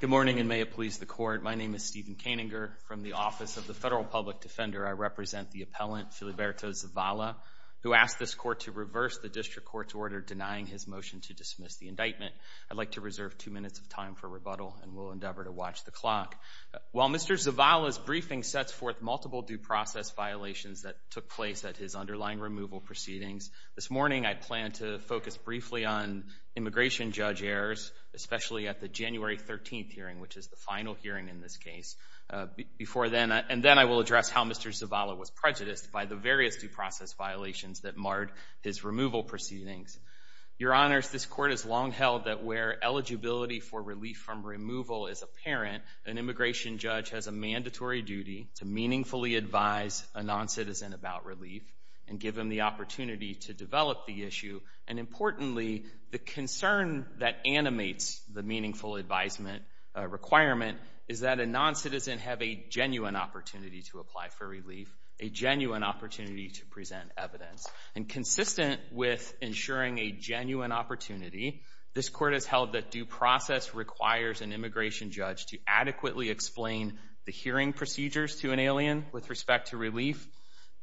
Good morning, and may it please the Court. My name is Stephen Koeninger. From the Office of the Federal Public Defender, I represent the appellant, Filiberto Zavala, who asked this Court to reverse the District Court's order denying his motion to dismiss the indictment. I'd like to reserve two minutes of time for rebuttal, and will endeavor to watch the clock. While Mr. Zavala's briefing sets forth multiple due process violations that took place at his underlying removal proceedings, this morning I plan to focus briefly on immigration judge errors, especially at the January 13th hearing, which is the final hearing in this case. And then I will address how Mr. Zavala was prejudiced by the various due process violations that marred his removal proceedings. Your Honors, this Court has long held that where eligibility for relief from removal is apparent, an immigration judge has a mandatory duty to meaningfully advise a noncitizen about relief, and give them the opportunity to develop the issue, and importantly, the concern that animates the meaningful advisement requirement is that a noncitizen have a genuine opportunity to apply for relief, a genuine opportunity to present evidence. And consistent with ensuring a genuine opportunity, this Court has held that due process requires an immigration judge to adequately explain the hearing procedures to an alien with respect to relief,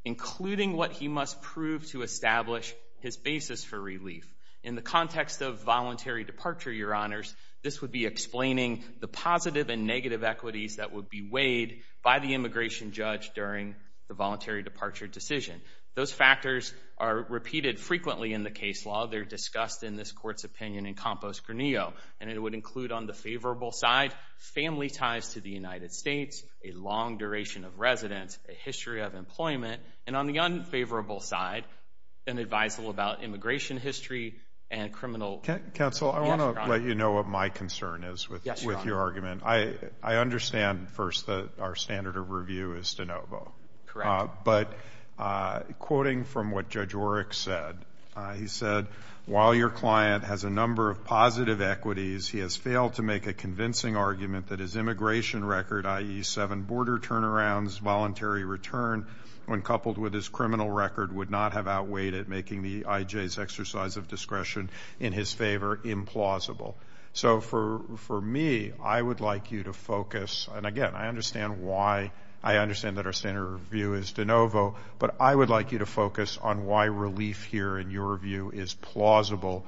including what he must prove to establish his basis for relief. In the context of voluntary departure, Your Honors, this would be explaining the positive and negative equities that would be weighed by the immigration judge during the voluntary departure decision. Those factors are repeated frequently in the case law, they're discussed in this Court's opinion in Compost-Granillo, and it would include on the favorable side, family ties to the United States, a long duration of residence, a history of employment, and on the unfavorable side, an advisal about immigration history, and criminal... Counsel, I want to let you know what my concern is with your argument. I understand first that our standard of review is de novo. Correct. But, quoting from what Judge Orrick said, he said, while your client has a number of positive equities, he has failed to make a convincing argument that his immigration record, i.e. seven border turnarounds, voluntary return, when coupled with his criminal record, would not have outweighed it, making the IJ's exercise of discretion in his favor implausible. So, for me, I would like you to focus, and again, I understand why, I understand that our standard of review is de novo, but I would like you to focus on why relief here, in your view, is plausible,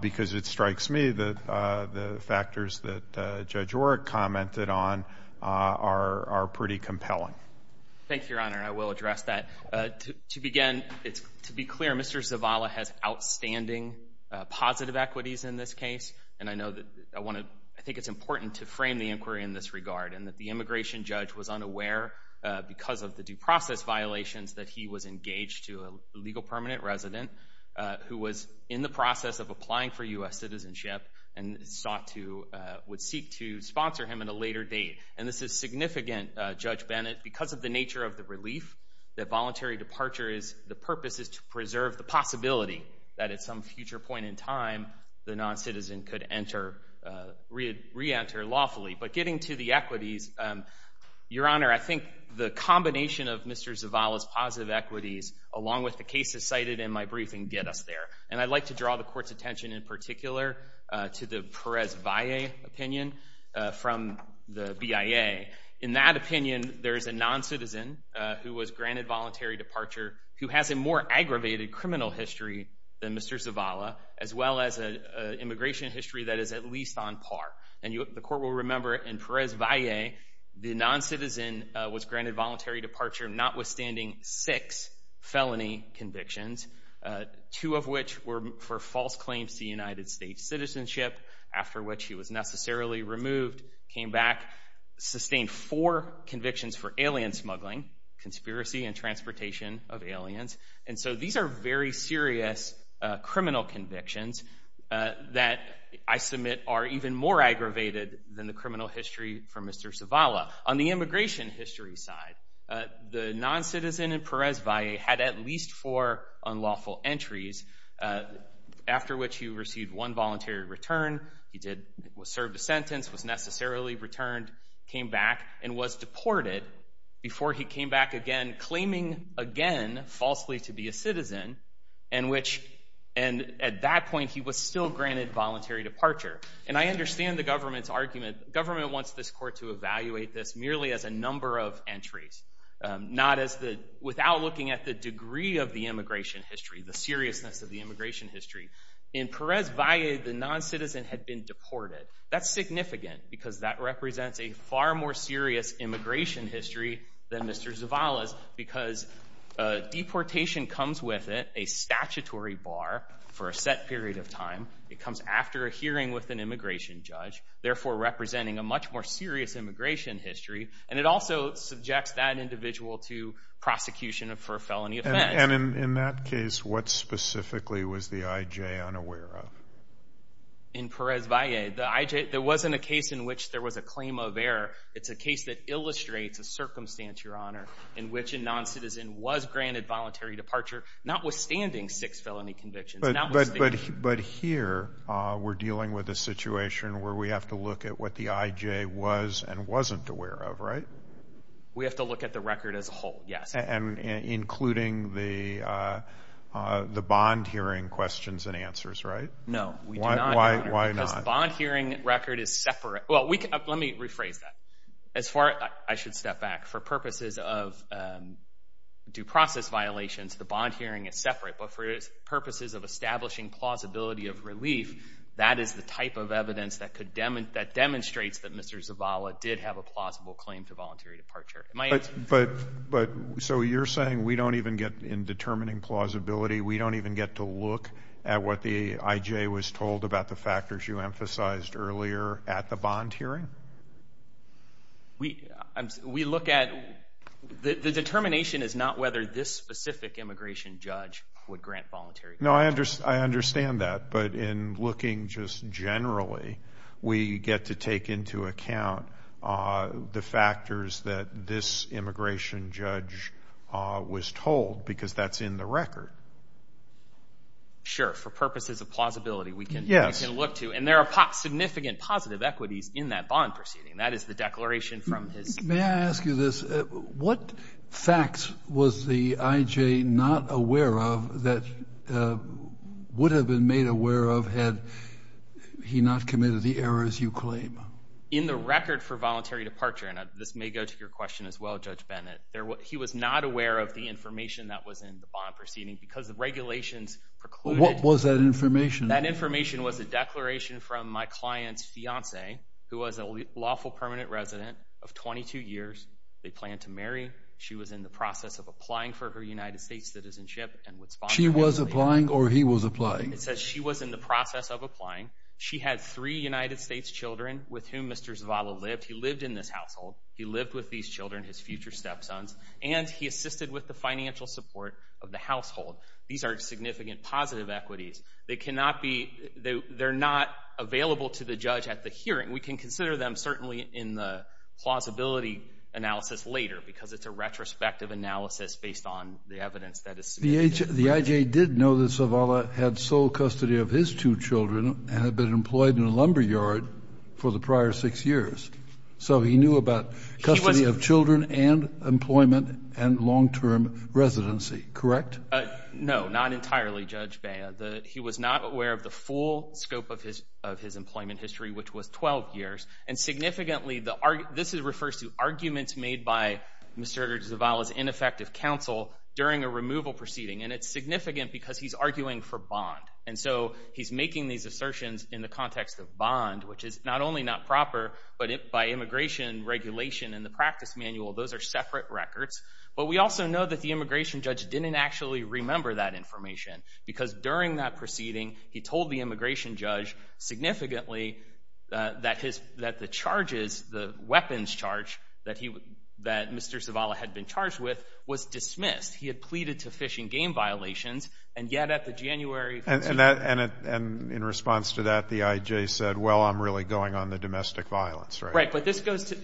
because it strikes me that the To begin, to be clear, Mr. Zavala has outstanding positive equities in this case, and I think it's important to frame the inquiry in this regard, and that the immigration judge was unaware, because of the due process violations, that he was engaged to a legal permanent resident who was in the process of applying for U.S. citizenship, and sought to, would seek to sponsor him at a later date. And this is significant, Judge Bennett, because of the nature of the relief, that voluntary departure is, the purpose is to preserve the possibility that at some future point in time, the non-citizen could enter, re-enter lawfully. But getting to the equities, Your Honor, I think the combination of Mr. Zavala's positive equities, along with the cases cited in my briefing, get us there. And I'd like to draw the Court's attention in particular, to the Perez-Valle opinion, from the BIA. In that opinion, there is a non-citizen, who was granted voluntary departure, who has a more aggravated criminal history than Mr. Zavala, as well as an immigration history that is at least on par. And the Court will remember, in Perez-Valle, the non-citizen was granted voluntary departure, notwithstanding six felony convictions, two of which were for false claims to United States citizenship, after which he was necessarily removed, came back, sustained four convictions for alien smuggling, conspiracy and transportation of aliens. And so, these are very serious criminal convictions that I submit are even more aggravated than the criminal history for Mr. Zavala. On the immigration history side, the non-citizen in Perez-Valle had at least four unlawful entries, after which he received one voluntary return, he served a sentence, was necessarily returned, came back, and was deported, before he came back again, claiming again, falsely to be a citizen, and at that point, he was still granted voluntary departure. And I understand the government's argument, government wants this Court to evaluate this merely as a number of entries, not as the, without looking at the degree of the immigration history, the seriousness of the immigration history. In Perez-Valle, the non-citizen had been deported. That's significant, because that represents a far more serious immigration history than Mr. Zavala's, because deportation comes with it, a statutory bar, for a set period of time, it comes after a hearing with an immigration judge, therefore representing a much more serious immigration history, and it also subjects that individual to prosecution for a felony offense. And in that case, what specifically was the I.J. unaware of? In Perez-Valle, the I.J., there wasn't a case in which there was a claim of error, it's a case that illustrates a circumstance, Your Honor, in which a non-citizen was granted voluntary departure, notwithstanding six felony convictions. But here, we're dealing with a situation where we have to look at what the I.J. was and wasn't aware of, right? We have to look at the record as a whole, yes. And including the bond hearing questions and answers, right? No, we do not, Your Honor. Why not? Because the bond hearing record is separate, well, let me rephrase that. As far, I should step back, for purposes of due process violations, the bond hearing is separate, but for purposes of establishing plausibility of relief, that is the type of evidence that demonstrates that Mr. Zavala did have a plausible claim to voluntary departure. So you're saying we don't even get, in determining plausibility, we don't even get to look at what the I.J. was told about the factors you emphasized earlier at the bond hearing? We look at, the I.J. would grant voluntary departure. No, I understand that, but in looking just generally, we get to take into account the factors that this immigration judge was told, because that's in the record. Sure, for purposes of plausibility, we can look to, and there are significant positive equities in that bond proceeding. That is the declaration from his... May I ask you this, what facts was the I.J. not aware of, that would have been made aware of had he not committed the errors you claim? In the record for voluntary departure, and this may go to your question as well, Judge Bennett, he was not aware of the information that was in the bond proceeding, because the regulations precluded... What was that information? That information was a declaration from my client's fiance, who was a lawful permanent resident of 22 years. They planned to marry. She was in the process of applying for her United States citizenship, and would sponsor... She was applying, or he was applying? It says she was in the process of applying. She had three United States children, with whom Mr. Zavala lived. He lived in this household. He lived with these children, his future step-sons, and he assisted with the financial support of the household. These are significant positive equities. They cannot be... They're not available to the judge at the hearing. We can consider them certainly in the plausibility analysis later, because it's a retrospective analysis based on the evidence that is submitted. The I.J. did know that Zavala had sole custody of his two children, and had been employed in a lumber yard for the prior six years, so he knew about custody of children and employment and long-term residency, correct? No, not entirely, Judge Baya. He was not aware of the full scope of his employment history, which was 12 years. And significantly, this refers to arguments made by Mr. Zavala's ineffective counsel during a removal proceeding, and it's significant because he's arguing for bond. And so, he's making these assertions in the context of bond, which is not only not proper, but by immigration regulation and the practice manual, those are separate records. But we also know that the immigration judge didn't actually remember that information, because during that proceeding, he told the immigration judge significantly that the charges, the weapons charge that Mr. Zavala had been charged with was dismissed. He had pleaded to fish and game violations, and yet at the January... And in response to that, the I.J. said, well, I'm really going on the domestic violence, right? Right, but this goes to...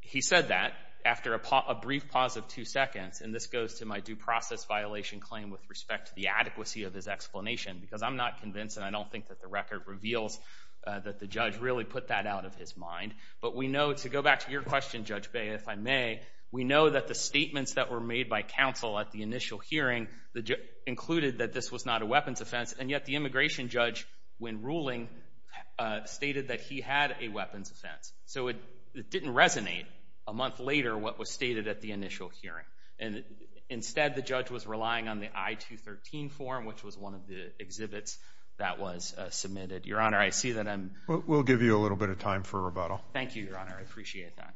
He said that after a brief pause of two seconds, and this goes to my due process violation claim with respect to the adequacy of his explanation, because I'm not convinced, and I don't think that the record reveals that the judge really put that out of his mind. But we know, to go back to your question, Judge Bay, if I may, we know that the statements that were made by counsel at the initial hearing included that this was not a weapons offense, and yet the immigration judge, when ruling, stated that he had a weapons offense. So, it didn't resonate a month later what was stated at the initial hearing. And instead, the judge was relying on the I-213 form, which was one of the exhibits that was submitted. Your Honor, I see that I'm... We'll give you a little bit of time for rebuttal. Thank you, Your Honor. I appreciate that.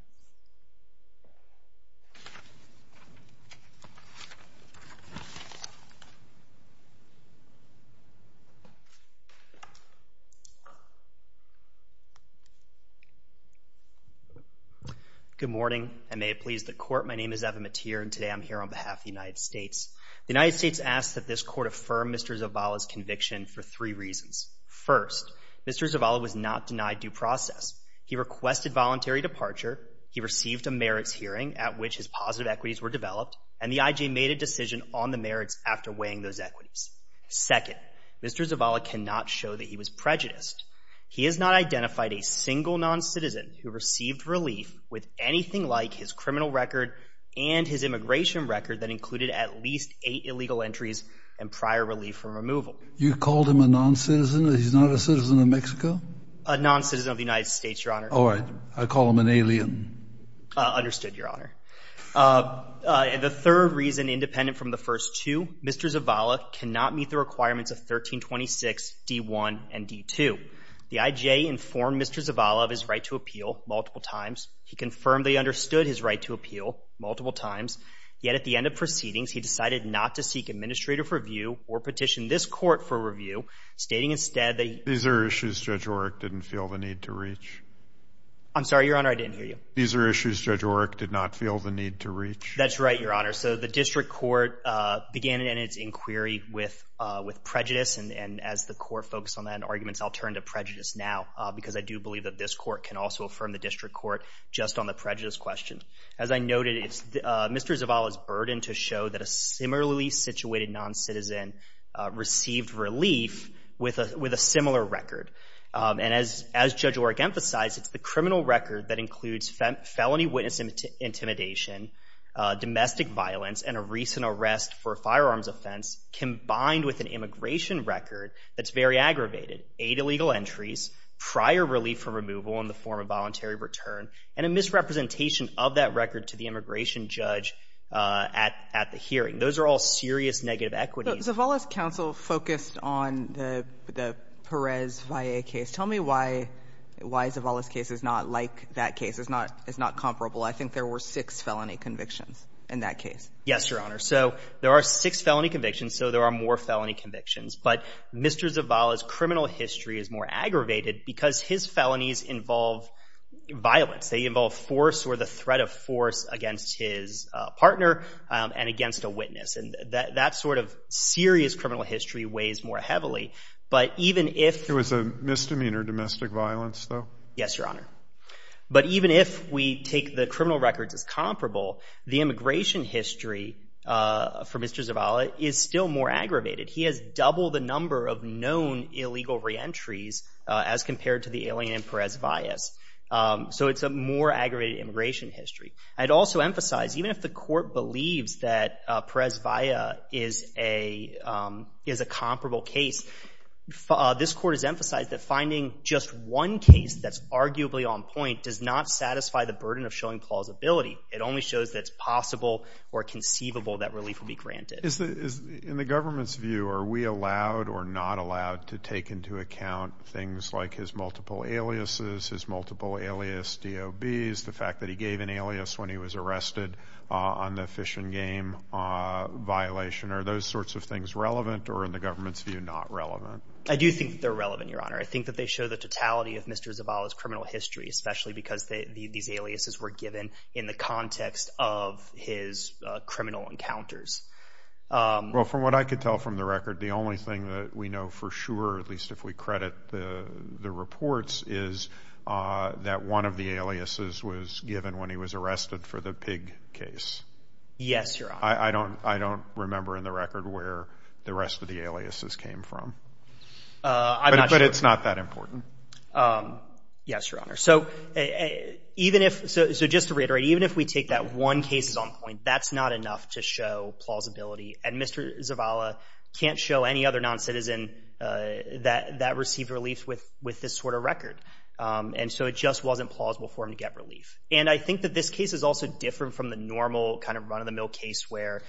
Good morning, and may it please the Court, my name is Evan Metier, and today I'm here on behalf of the United States. The United States asks that this Court affirm Mr. Zavala's conviction for three reasons. First, Mr. Zavala was not denied due process. He requested voluntary departure, he received a merits hearing at which his positive equities were developed, and the IJ made a decision on the merits after weighing those equities. Second, Mr. Zavala cannot show that he was prejudiced. He has not identified a single non-citizen who received relief with anything like his criminal record and his immigration record that included at least eight illegal entries and prior relief from removal. You called him a non-citizen? He's not a citizen of Mexico? A non-citizen of the United States, Your Honor. All right. I call him an alien. Understood, Your Honor. The third reason, independent from the first two, Mr. Zavala cannot meet the requirements of 1326 D-1 and D-2. The IJ informed Mr. Zavala of his right to appeal multiple times. He confirmed that he understood his right to appeal multiple times, yet at the end of proceedings, he decided not to seek administrative review or petition this Court for review, stating instead that he... These are issues Judge Oreck didn't feel the need to reach. I'm sorry, Your Honor, I didn't hear you. These are issues Judge Oreck did not feel the need to reach. That's right, Your Honor. So the District Court began in its inquiry with prejudice, and as the Court focused on that in arguments, I'll turn to prejudice now, because I do believe that this Court can also affirm the District Court just on the prejudice question. As I noted, it's Mr. Zavala's burden to show that a similarly situated non-citizen received relief with a similar record. And as Judge Oreck emphasized, it's the criminal record that includes felony witness intimidation, domestic violence, and a recent arrest for a firearms offense, combined with an immigration record that's very aggravated, eight illegal entries, prior relief from removal in the form of voluntary return, and a misrepresentation of that record to the immigration judge at the hearing. Those are all serious negative equities. But Zavala's counsel focused on the Perez-Valle case. Tell me why Zavala's case is not like that case. It's not comparable. I think there were six felony convictions in that case. Yes, Your Honor. So there are six felony convictions, so there are more felony convictions. But Mr. Zavala's criminal history is more aggravated because his felonies involve violence. They involve force or the threat of force against his partner and against a witness. And that sort of serious criminal history weighs more heavily. But even if — It was a misdemeanor, domestic violence, though? Yes, Your Honor. But even if we take the criminal records as comparable, the immigration history for Mr. Zavala is still more aggravated. He has double the number of known illegal reentries as compared to the alien in Perez-Valle's. So it's a more aggravated immigration history. I'd also emphasize, even if the court believes that Perez-Valle is a comparable case, this court has emphasized that finding just one case that's arguably on point does not satisfy the burden of showing plausibility. It only shows that it's possible or conceivable that relief will be granted. In the government's view, are we allowed or not allowed to take into account things like his multiple aliases, his multiple alias DOBs, the fact that he gave an alias when he was arrested on the fish and game violation? Are those sorts of things relevant or, in the government's view, not relevant? I do think they're relevant, Your Honor. I think that they show the totality of Mr. Zavala's criminal history, especially because these aliases were given in the context of his criminal encounters. Well, from what I could tell from the record, the only thing that we know for sure, at least if we credit the reports, is that one of the aliases was given when he was arrested for the pig case. Yes, Your Honor. I don't remember in the record where the rest of the aliases came from. I'm not sure. But it's not that important. Yes, Your Honor. So just to reiterate, even if we take that one case as on point, that's not enough to show plausibility. And Mr. Zavala can't show any other noncitizen that received relief with this sort of record. And so it just wasn't plausible for him to get relief. And I think that this case is also different from the normal kind of run-of-the-mill case where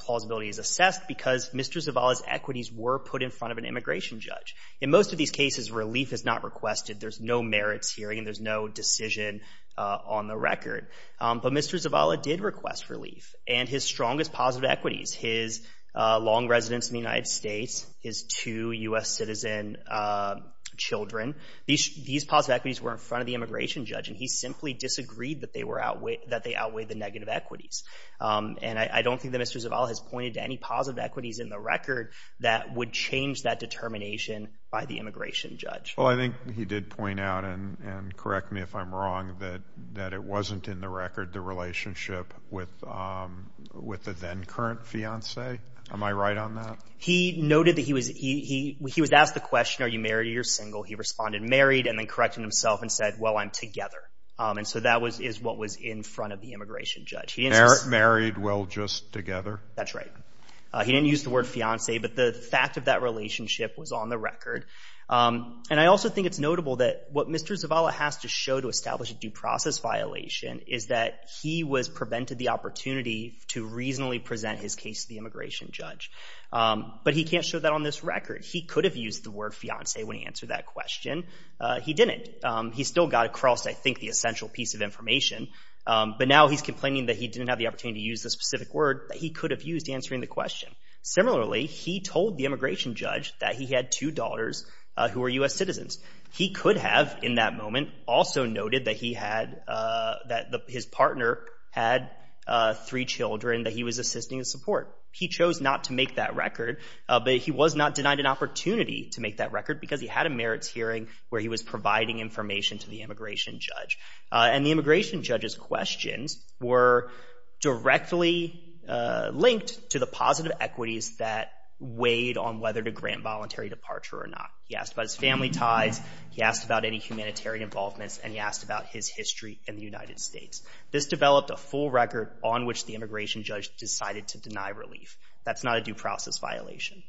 plausibility is assessed because Mr. Zavala's equities were put in front of an immigration judge. In most of these cases, relief is not requested. There's no merits hearing. There's no decision on the record. But Mr. Zavala did request relief. And his strongest positive equities, his long residence in the United States, his two U.S. citizen children, these positive equities were in front of the immigration judge. And he simply disagreed that they outweighed the negative equities. And I don't think that Mr. Zavala has pointed to any positive equities in the record that would change that determination by the immigration judge. Well, I think he did point out, and correct me if I'm wrong, that it wasn't in the record the relationship with the then-current fiancee. Am I right on that? He noted that he was asked the question, are you married or are you single? He responded, married, and then corrected himself and said, well, I'm together. And so that is what was in front of the immigration judge. He didn't just... Married, well, just together? That's right. He didn't use the word fiancee, but the fact of that relationship was on the record. And I also think it's notable that what Mr. Zavala has to show to establish a due process violation is that he was prevented the opportunity to reasonably present his case to the immigration judge. But he can't show that on this record. He could have used the word fiancee when he answered that question. He didn't. He still got across, I think, the essential piece of information, but now he's complaining that he didn't have the opportunity to use the specific word that he could have used answering the question. Similarly, he told the immigration judge that he had two daughters who were U.S. citizens. He could have, in that moment, also noted that he had... That his partner had three children that he was assisting in support. He chose not to make that record, but he was not denied an opportunity to make that record because he had a merits hearing where he was providing information to the immigration judge. And the immigration judge's questions were directly linked to the positive equities that weighed on whether to grant voluntary departure or not. He asked about his family ties. He asked about any humanitarian involvements, and he asked about his history in the United States. This developed a full record on which the immigration judge decided to deny relief. That's not a due process violation.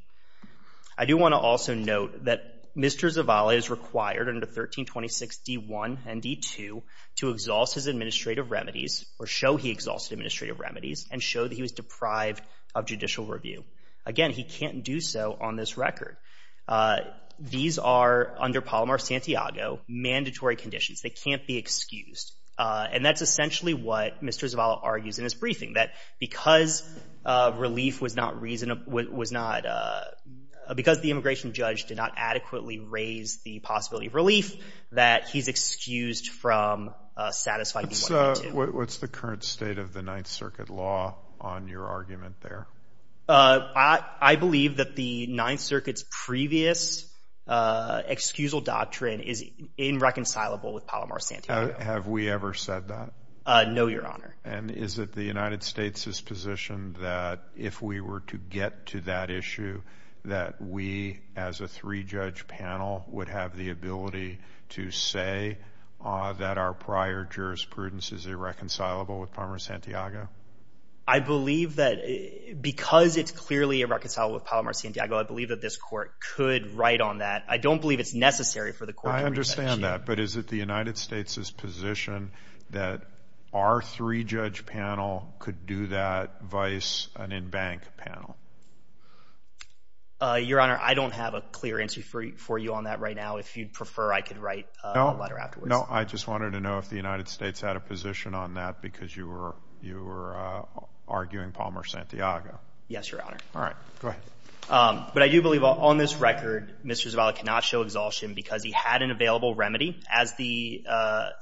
I do want to also note that Mr. Zavala is required under 1326 D1 and D2 to exhaust his administrative remedies or show he exhausted administrative remedies and show that he was deprived of judicial review. Again, he can't do so on this record. These are, under Palomar-Santiago, mandatory conditions. They can't be excused. And that's essentially what Mr. Zavala argues in his briefing, that because relief was not because the immigration judge did not adequately raise the possibility of relief, that he's excused from satisfying D1 and D2. What's the current state of the Ninth Circuit law on your argument there? I believe that the Ninth Circuit's previous excusal doctrine is irreconcilable with Palomar-Santiago. Have we ever said that? No, Your Honor. And is it the United States' position that if we were to get to that issue, that we as a three-judge panel would have the ability to say that our prior jurisprudence is irreconcilable with Palomar-Santiago? I believe that because it's clearly irreconcilable with Palomar-Santiago, I believe that this court could write on that. I don't believe it's necessary for the court to re-judge. I understand that. But is it the United States' position that our three-judge panel could do that, vice an in-bank panel? Your Honor, I don't have a clear answer for you on that right now. If you'd prefer, I could write a letter afterwards. No, I just wanted to know if the United States had a position on that because you were arguing Palomar-Santiago. Yes, Your Honor. All right. Go ahead. But I do believe on this record, Mr. Zavala cannot show exhaustion because he had an available remedy, as the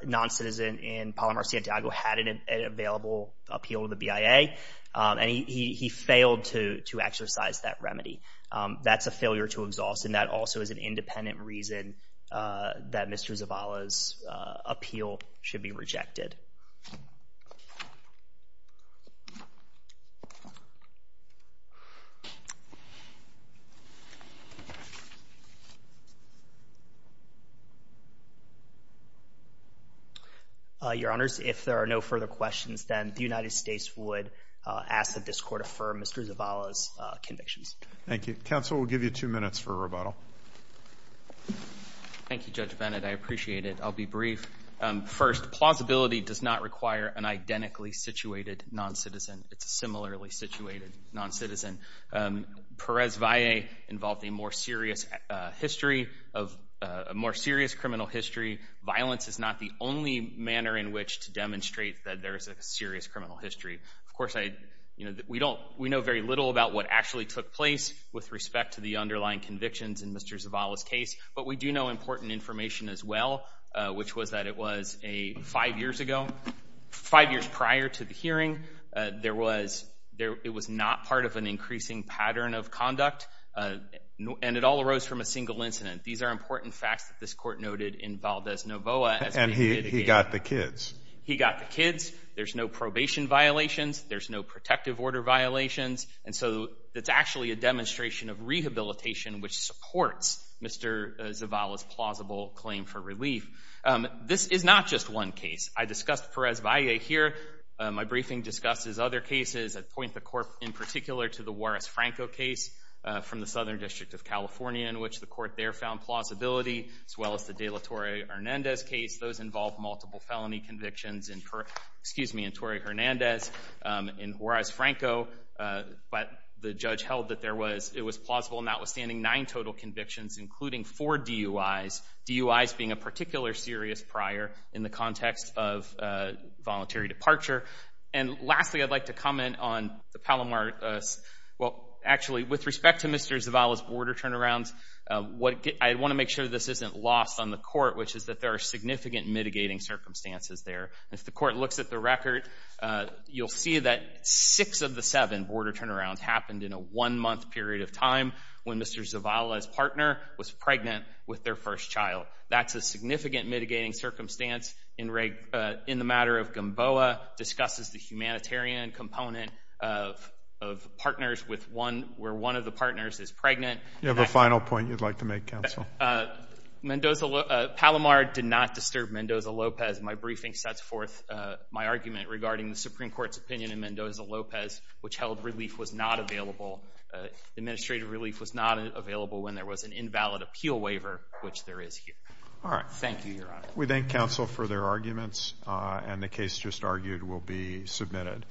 non-citizen in Palomar-Santiago had an available appeal with the BIA, and he failed to exercise that remedy. That's a failure to exhaust, and that also is an independent reason that Mr. Zavala's appeal should be rejected. Your Honors, if there are no further questions, then the United States would ask that this Court affirm Mr. Zavala's convictions. Thank you. Counsel will give you two minutes for rebuttal. Thank you, Judge Bennett. I appreciate it. I'll be brief. First, plausibility does not require an identically situated non-citizen. It's a similarly situated non-citizen. Perez-Valle involved a more serious criminal history. Violence is not the only manner in which to demonstrate that there is a serious criminal history. Of course, we know very little about what actually took place with respect to the underlying convictions in Mr. Zavala's case, but we do know important information as well, which was that it was five years ago, five years prior to the hearing, it was not part of an increasing pattern of conduct, and it all arose from a single incident. These are important facts that this Court noted in Valdez-Novoa. And he got the kids. He got the kids. There's no probation violations. There's no protective order violations. And so it's actually a demonstration of rehabilitation, which supports Mr. Zavala's plausible claim for relief. This is not just one case. I discussed Perez-Valle here. My briefing discusses other cases that point the Court in particular to the Juarez-Franco case from the Southern District of California, in which the Court there found plausibility, as well as the de la Torre-Hernandez case. Those involved multiple felony convictions in Torre-Hernandez, in Juarez-Franco, but the judge held that it was plausible notwithstanding nine total convictions, including four DUIs, DUIs being a particular serious prior in the context of voluntary departure. And lastly, I'd like to comment on the Palomar—well, actually, with respect to Mr. Zavala's border turnarounds, I want to make sure this isn't lost on the Court, which is that there are significant mitigating circumstances there. If the Court looks at the record, you'll see that six of the seven border turnarounds happened in a one-month period of time when Mr. Zavala's partner was pregnant with their first child. That's a significant mitigating circumstance in the matter of GOMBOA, discusses the humanitarian component of partners with one—where one of the partners is pregnant. You have a final point you'd like to make, Counsel. Palomar did not disturb Mendoza-Lopez. My briefing sets forth my argument regarding the Supreme Court's opinion in Mendoza-Lopez, which held relief was not available—administrative relief was not available when there was an is here. Thank you, Your Honor. We thank Counsel for their arguments, and the case just argued will be submitted.